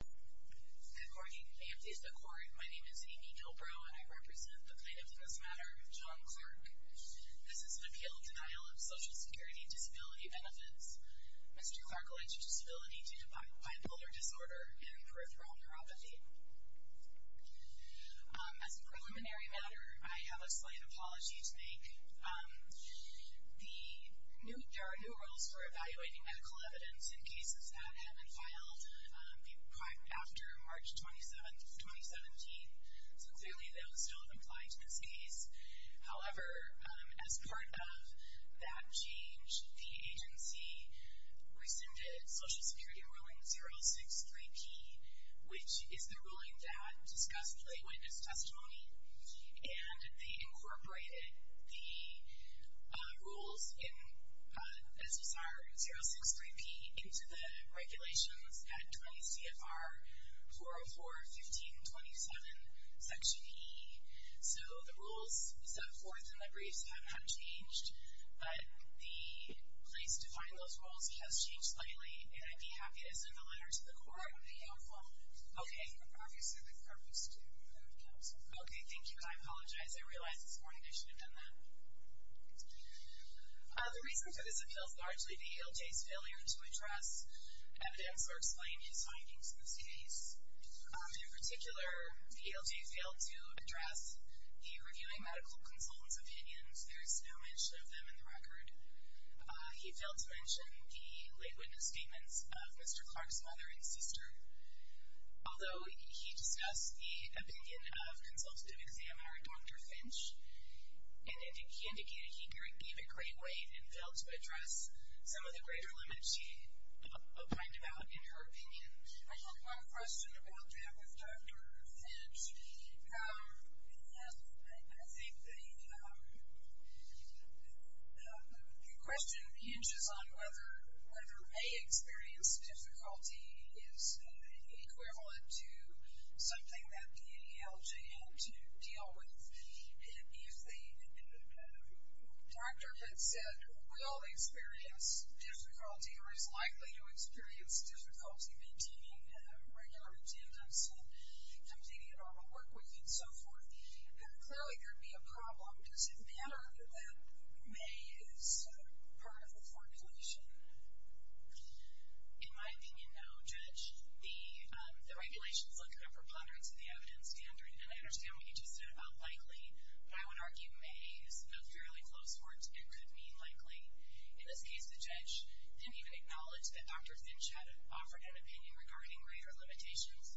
Good morning. My name is Amy Kilbrough, and I represent the plaintiff in this matter, John Clarke. This is an appeal in denial of Social Security disability benefits. Mr. Clarke alleges disability due to bipolar disorder and peripheral neuropathy. As a preliminary matter, I have a slight apology to make. There are new rules for evaluating medical evidence in cases that have been filed after March 27th, 2017. So clearly those don't apply to this case. However, as part of that change, the agency rescinded Social Security Ruling 063P, which is the ruling that discussed lay witness testimony, and they incorporated the rules in SSR 063P into the regulations at 20 CFR 404-1527, Section E. So the rules set forth in the briefs have not changed, but the place to find those rules has changed slightly, and I'd be happy to send a letter to the court. Okay. Okay, thank you, and I apologize. I realize it's morning. I should have done that. The reason for this appeal is largely the ALJ's failure to address evidence or explain his findings in this case. In particular, the ALJ failed to address the reviewing medical consultant's opinions. There is no mention of them in the record. He failed to mention the lay witness statements of Mr. Clark's mother and sister, although he discussed the opinion of Consultative Examiner Dr. Finch, and he indicated he gave it great weight and failed to address some of the greater limits she opined about in her opinion. I have one question about that with Dr. Finch. Yes. I think the question hinges on whether a may experience difficulty is equivalent to something that the ALJ had to deal with if the doctor had said who will experience difficulty or is likely to experience difficulty maintaining regular attendance and completing a normal work week and so forth. Clearly, there would be a problem. Does it matter that may is part of the formulation? In my opinion, no, Judge. The regulations look at a preponderance of the evidence standard, and I understand what you just said about likely, but I would argue may is a fairly close word. It could mean likely. In this case, the judge didn't even acknowledge that Dr. Finch had offered an opinion regarding greater limitations.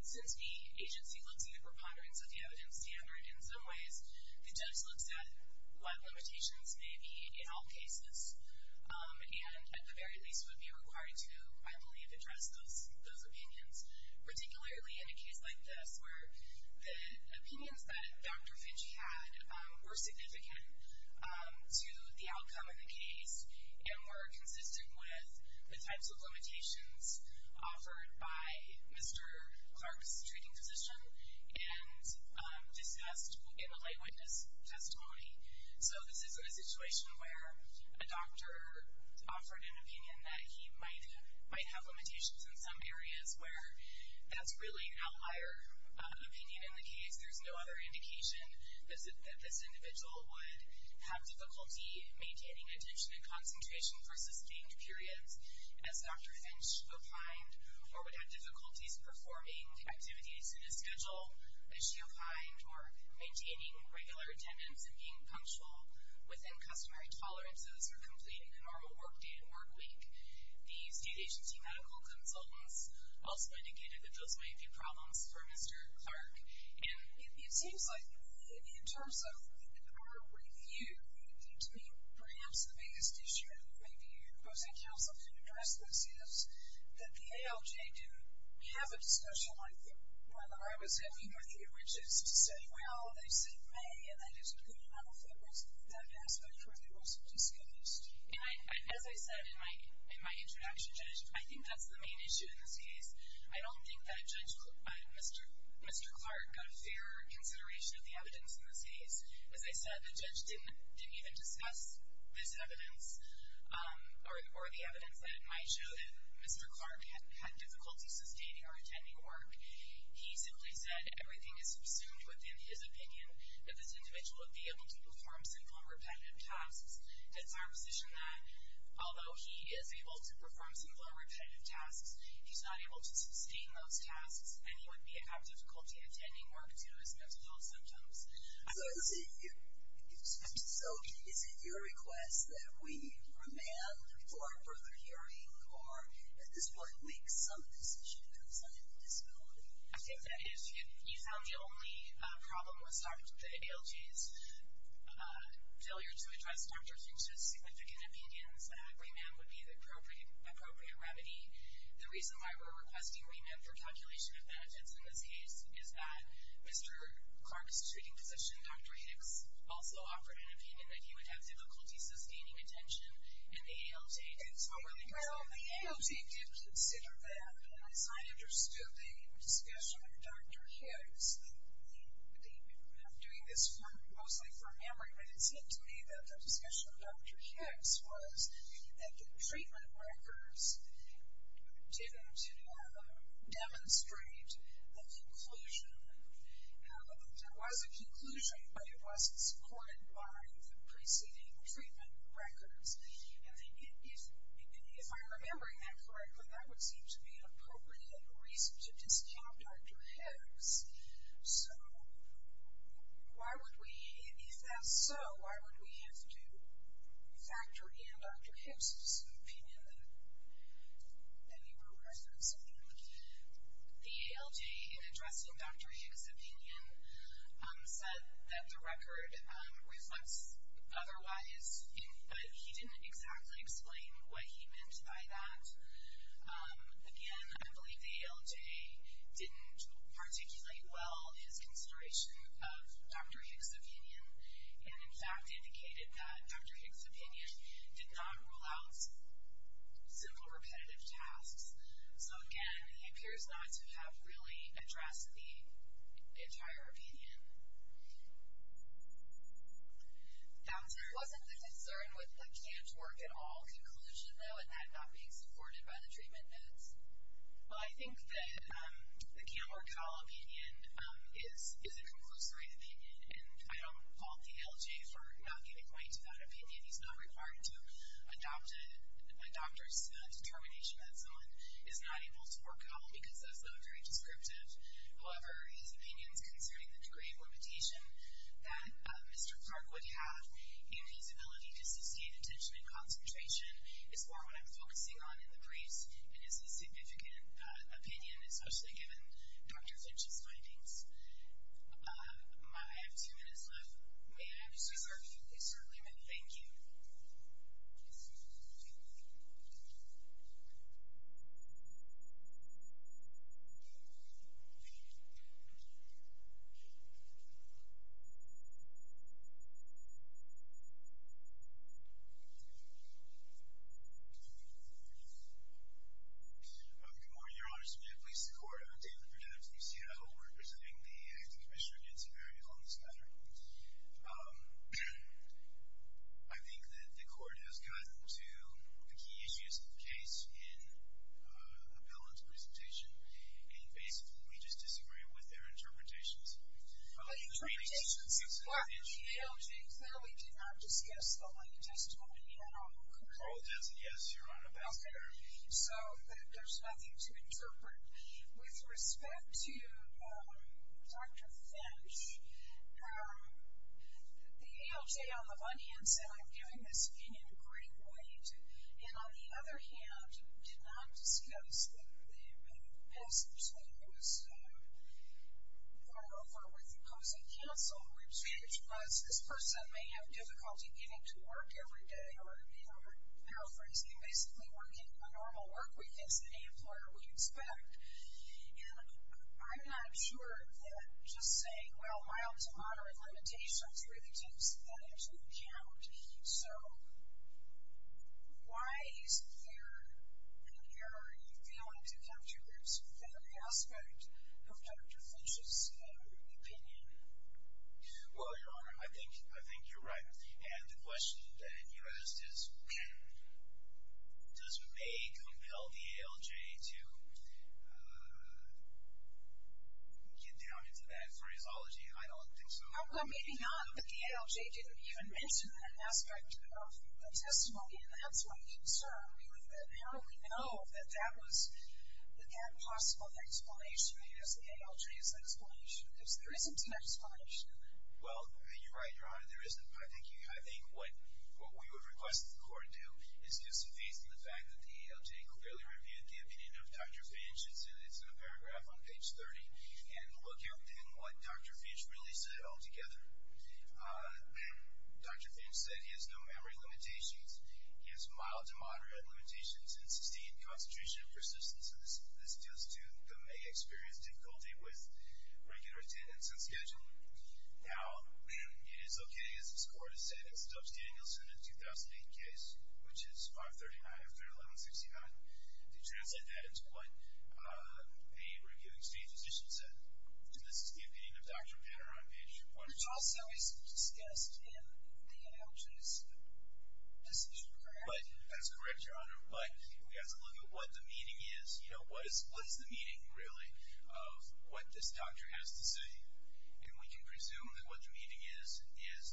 Since the agency looks at the preponderance of the evidence standard in some ways, the judge looks at what limitations may be in all cases and at the very least would be required to, I believe, address those opinions, particularly in a case like this where the opinions that Dr. Finch had were significant to the outcome of the case and were consistent with the types of limitations offered by Mr. Clark's treating physician and discussed in the light witness testimony. So this isn't a situation where a doctor offered an opinion that he might have limitations in some areas where that's really an outlier opinion in the case. There's no other indication that this individual would have difficulty maintaining attention and concentration for sustained periods as Dr. Finch opined or would have difficulties performing activities in his schedule as she opined or maintaining regular attendance and being punctual within customary tolerances or completing the normal work day and work week. The state agency medical consultants also indicated that those might be problems for Mr. Clark, and it seems like in terms of our review, to me perhaps the biggest issue, and maybe your opposing counsel can address this, is that the ALJ do have a discussion on whether I was happy with the origins to say, well, they said may, and that is a good enough evidence that that aspect really was disclosed. And as I said in my introduction, Judge, I think that's the main issue in this case. I don't think that Mr. Clark got a fair consideration of the evidence in this case. As I said, the judge didn't even discuss this evidence or the evidence that might show that Mr. Clark had difficulty sustaining or attending work. He simply said everything is subsumed within his opinion that this individual would be able to perform simple and repetitive tasks. It's my position that although he is able to perform simple and repetitive tasks, he's not able to sustain those tasks, and he would have difficulty attending work due to his mental health symptoms. So is it your request that we remand for further hearing, or at this point make some decision concerning disability? I think that if you found the only problem was the ALJ's failure to address Dr. King's significant opinions, that remand would be the appropriate remedy. The reason why we're requesting remand for calculation of benefits in this case is that Mr. Clark's treating physician, Dr. Hicks, also offered an opinion that he would have difficulty sustaining attention in the ALJ. Well, the ALJ did consider that, and as I understood the discussion with Dr. Hicks, and I'm doing this mostly from memory, but it seemed to me that the discussion with Dr. Hicks was that the treatment records didn't demonstrate the conclusion. There was a conclusion, but it wasn't supported by the preceding treatment records. And if I'm remembering that correctly, that would seem to be an appropriate reason to discount Dr. Hicks. So why would we, if that's so, why would we have to factor in Dr. Hicks' opinion that we were requesting remand? The ALJ, in addressing Dr. Hicks' opinion, said that the record reflects otherwise, but he didn't exactly explain what he meant by that. Again, I believe the ALJ didn't articulate well his consideration of Dr. Hicks' opinion, and, in fact, indicated that Dr. Hicks' opinion did not rule out simple repetitive tasks. So, again, he appears not to have really addressed the entire opinion. There wasn't a concern with the can't work at all conclusion, though, and that not being supported by the treatment notes. Well, I think that the can't work at all opinion is a conclusory opinion, and I don't hold the ALJ for not giving weight to that opinion. He's not required to adopt a doctor's determination that someone is not able to work at all, because that's not very descriptive. However, his opinions concerning the degree of limitation that Mr. Clark would have in his ability to associate attention and concentration is more what I'm focusing on in the briefs, and is a significant opinion, especially given Dr. Hicks' findings. I have two minutes left. May I? Certainly. Certainly, ma'am. Thank you. Thank you. Good morning, Your Honor. Sergeant Police, the court. I'm David Perdue. I'm the CCO representing the acting commissioner against a very long spatter. I think that the court has gotten to the key issues of the case in Appellant's presentation, and, basically, we just disagree with their interpretations. Related to limitations, Mr. Clark, the ALJ clearly did not discuss the line just when we had our conclusion. Oh, that's a yes, Your Honor. That's a yes. So there's nothing to interpret. With respect to Dr. Finch, the ALJ, on the one hand, said, I'm giving this opinion a great weight, and, on the other hand, did not discuss the passage when it was brought over with opposing counsel, which was, this person may have difficulty getting to work every day, or, you know, paraphrasing, basically working a normal work week, as any employer would expect. And I'm not sure that just saying, well, mild to moderate limitations really takes that into account. So, why is there an error in failing to come to this very aspect of Dr. Finch's opinion? Well, Your Honor, I think you're right. And the question that you asked is, does May compel the ALJ to get down into that phraseology? I don't think so. Well, maybe not, but the ALJ didn't even mention that aspect of the testimony, and that's my concern. How do we know that that was, that that possible explanation is, the ALJ's explanation? There isn't an explanation. Well, you're right, Your Honor, there isn't. I think what we would request that the Court do is give some faith in the fact that the ALJ clearly reviewed the opinion of Dr. Finch, it's in a paragraph on page 30, and look at what Dr. Finch really said altogether. Dr. Finch said he has no memory limitations. He has mild to moderate limitations in sustained concentration and persistence, and this deals to the May experience difficulty with regular attendance and scheduling. Now, it is okay, as this Court has said, in Stubbs-Danielson in the 2008 case, which is 539 after 1169, to translate that into what a reviewing state physician said. And this is the opinion of Dr. Penner on page 40. Which also is discussed in the ALJ's decision paragraph. But, that's correct, Your Honor, but we have to look at what the meaning is, you know, what is the meaning, really, of what this doctor has to say. And we can presume that what the meaning is, is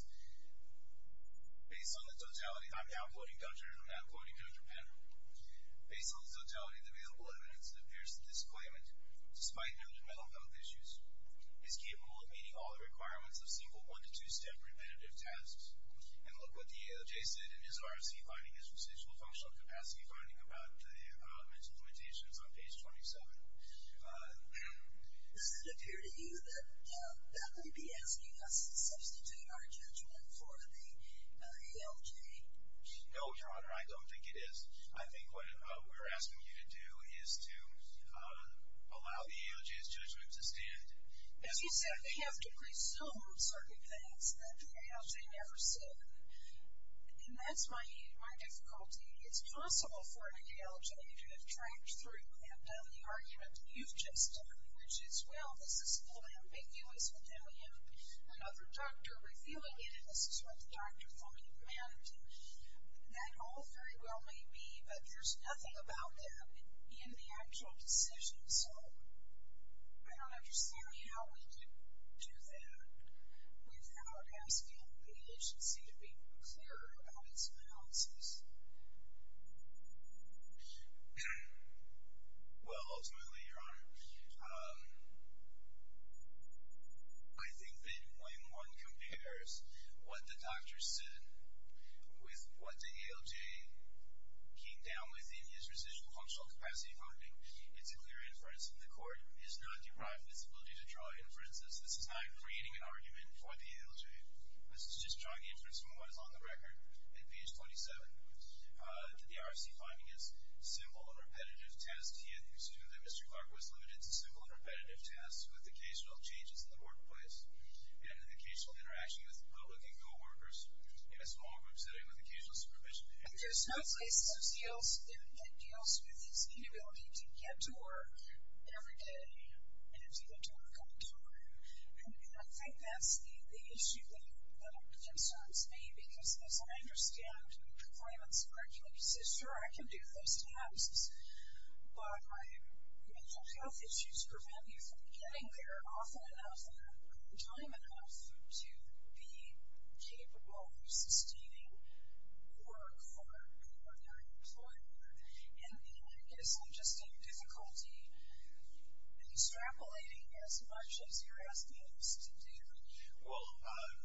based on the totality, I'm now quoting Dr., I'm now quoting Dr. Penner, based on the totality of the available evidence that appears to disclaim it, despite no developmental health issues, is capable of meeting all the requirements of single one- to two-step repetitive tasks. And look what the ALJ said in his RFC finding, his residual functional capacity finding, about the mental limitations on page 27. Does it appear to you that that would be asking us to substitute our judgment for the ALJ? No, Your Honor, I don't think it is. I think what we're asking you to do is to allow the ALJ's judgment to stand. As you said, we have to presume certain things that the ALJ never said, and that's my difficulty. It's possible for an ALJ to have tracked through and done the argument that you've just done, which is, well, this is a little ambiguous, and then we have another doctor reviewing it, and this is what the doctor thought he'd managed, and that all very well may be, but there's nothing about that in the actual decision. So I don't understand how we could do that without asking the agency to be clearer about its balances. Well, ultimately, Your Honor, I think that when one compares what the doctor said with what the ALJ came down with in his residual functional capacity finding, it's a clear inference. The court is not deprived of its ability to draw inferences. This is not creating an argument for the ALJ. This is just drawing inference from what is on the record in page 27. The RFC finding is simple and repetitive tests. He assumed that Mr. Clark was limited to simple and repetitive tests with occasional changes in the workplace and an occasional interaction with the public and coworkers in a small group setting with occasional supervision. There's no place in those deals that deals with its inability to get to work every day and to get to work on time, and I think that's the issue that concerns me because, as I understand, the claimant's curriculum says, sure, I can do those tasks, but the health issues prevent you from getting there often enough and on time enough to be capable of sustaining the work for another employer, and then it gets interesting difficulty extrapolating as much as you're asking him to do. Well,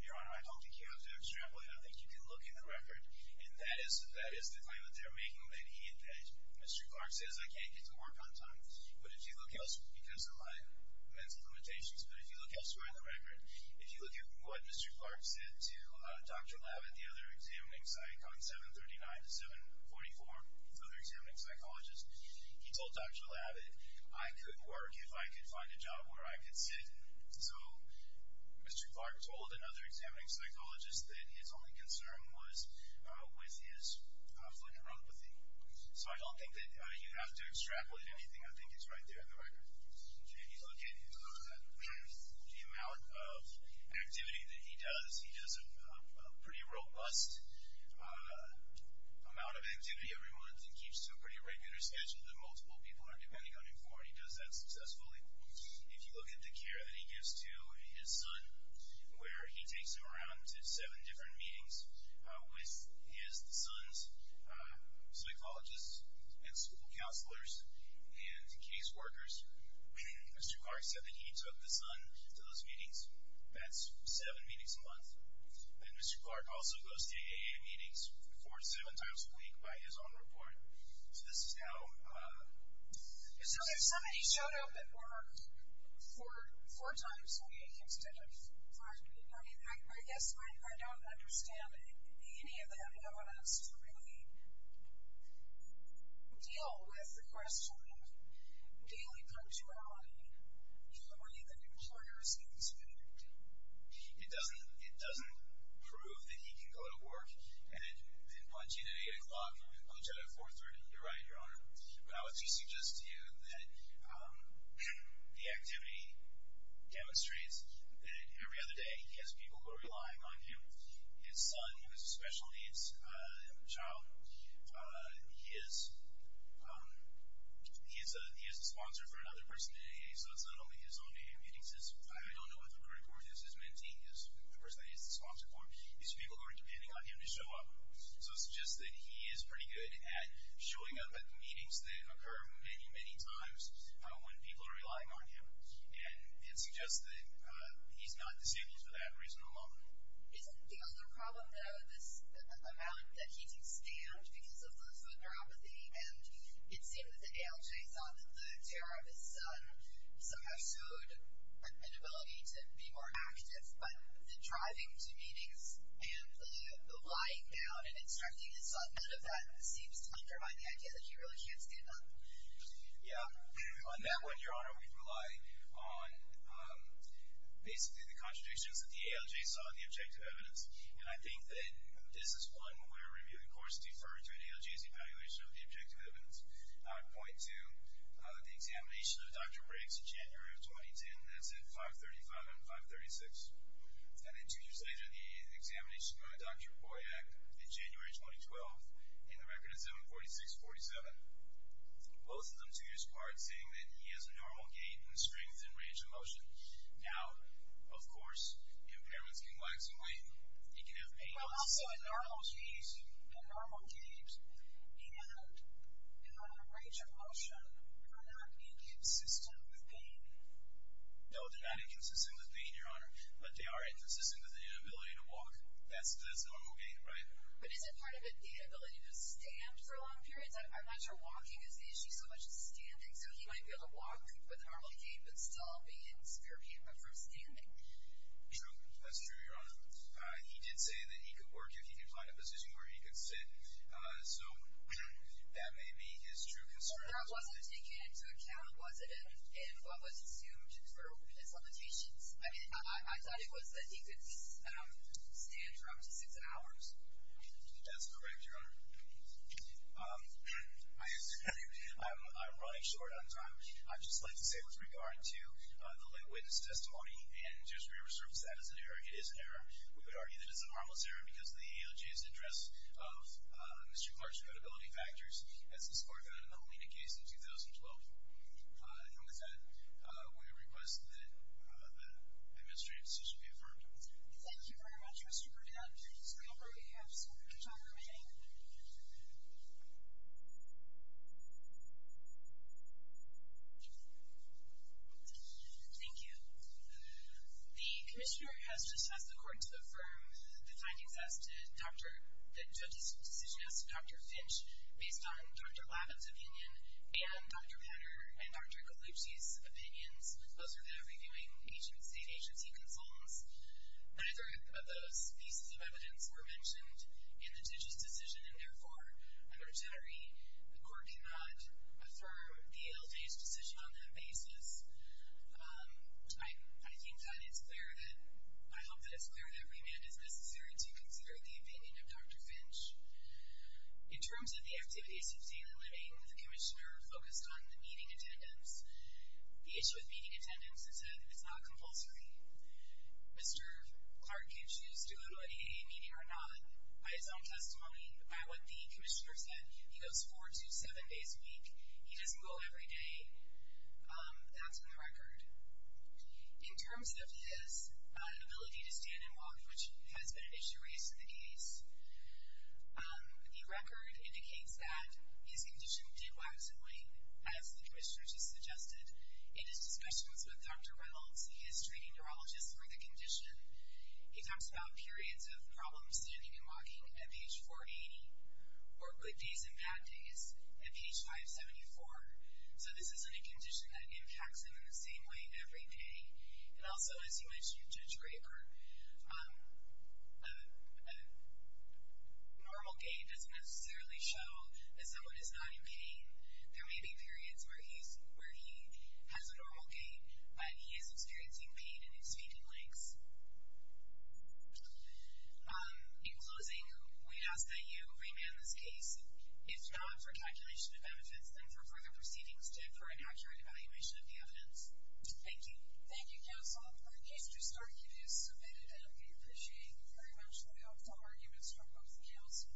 Your Honor, I don't think you have to extrapolate. I think you can look in the record, and that is the claim that they're making when they need it. Mr. Clark says, I can't get to work on time, but if you look elsewhere, because of my mental limitations, but if you look elsewhere in the record, if you look at what Mr. Clark said to Dr. Labbitt, the other examining psych, on 739 to 744, the other examining psychologist, he told Dr. Labbitt, I could work if I could find a job where I could sit, so Mr. Clark told another examining psychologist that his only concern was with his fluent neuropathy. So I don't think that you have to extrapolate anything. I think it's right there in the record. If you look at the amount of activity that he does, he does a pretty robust amount of activity every month and keeps to a pretty regular schedule that multiple people are depending on him for, and he does that successfully. If you look at the care that he gives to his son, where he takes him around to seven different meetings with his son's psychologists and school counselors and case workers, Mr. Clark said that he took the son to those meetings. That's seven meetings a month. And Mr. Clark also goes to AA meetings four or seven times a week by his own report. So this is how... So if somebody showed up at work four times a week instead of five, I mean, I guess I don't understand any of that evidence to really deal with the question of daily punctuality, or even employer-specific activity. It doesn't prove that he can go to work and punch in at 8 o'clock and punch out at 4 30. You're right, Your Honor. But I would suggest to you that the activity demonstrates that every other day he has people who are relying on him, his son, who has special needs, a child. He is a sponsor for another person, so it's not only his own AA meetings. I don't know what the report is. His mentee is the person that he's the sponsor for. It's people who are depending on him to show up. So it suggests that he is pretty good at showing up at the meetings that occur many, many times when people are relying on him. And it suggests that he's not disabled for that reason alone. Isn't the other problem, though, this amount that he takes damage because of the photography? And it seemed that the ALJ saw that the terror of his son somehow showed an ability to be more active. But the driving to meetings and the lying down and instructing his son, none of that seems to undermine the idea that he really can't stand up. Yeah. On that one, Your Honor, we rely on basically the contradictions that the ALJ saw in the objective evidence. And I think that this is one where we, of course, defer to an ALJ's evaluation of the objective evidence. Point two, the examination of Dr. Briggs in January of 2010. That's at 535 and 536. And then two years later, the examination of Dr. Boyack in January 2012. And the record is 746-47. Both of them, two years apart, saying that he has a normal gait and strength and range of motion. Now, of course, impairments can lag some weight. He can have pain on his knees. But normal gait and range of motion are not inconsistent with pain. No, they're not inconsistent with pain, Your Honor. But they are inconsistent with the ability to walk. That's normal gait, right? But isn't part of it the ability to stand for long periods? I'm not sure walking is the issue so much as standing. So he might be able to walk with a normal gait but still be in severe pain but from standing. True, that's true, Your Honor. He did say that he could work if he could find a position where he could sit. So that may be his true concern. But that wasn't taken into account, was it, in what was assumed for his limitations? I mean, I thought it was that he could at least stand for up to six hours. That's correct, Your Honor. I'm running short on time. I'd just like to say with regard to the lit witness testimony and just resurface that as an error. It is an error. We would argue that it's a harmless error because of the AOJ's interest of Mr. Clark's credibility factors as he scored that in the Holina case in 2012. And with that, we request that that administrative decision be affirmed. Thank you very much, Mr. Burdett. So we have some time remaining. Thank you. Thank you. The commissioner has just asked the court to affirm the findings of the decision as to Dr. Finch based on Dr. Lavin's opinion and Dr. Patter and Dr. Gallucci's opinions. Those are the reviewing agency consults. Neither of those pieces of evidence were mentioned in the judge's decision, and therefore, I'm sorry. The court cannot affirm the AOJ's decision on that basis. I think that it's clear that I hope that it's clear that remand is necessary to consider the opinion of Dr. Finch. In terms of the activities of daily living, the commissioner focused on the meeting attendance. The issue with meeting attendance is that it's not compulsory. Mr. Clark can choose to go to a meeting or not by his own testimony, by what the commissioner said. He goes four to seven days a week. He doesn't go every day. That's in the record. In terms of his ability to stand and walk, which has been an issue raised in the case, the record indicates that his condition did wax and wane, as the commissioner just suggested. In his discussions with Dr. Reynolds, he is treating neurologists for the condition. He talks about periods of problems standing and walking at page 480, or good days and bad days, at page 574. So this isn't a condition that impacts him in the same way every day. And also, as you mentioned, Judge Rayburn, a normal gait doesn't necessarily show that someone is not in pain. There may be periods where he has a normal gait, but he is experiencing pain in his feet and legs. In closing, we ask that you remand this case, if not for calculation of benefits, then for further proceedings to occur and accurate evaluation of the evidence. Thank you. Thank you, counsel. Our case trust argument is submitted, and we appreciate very much the optimal arguments from both the counsel.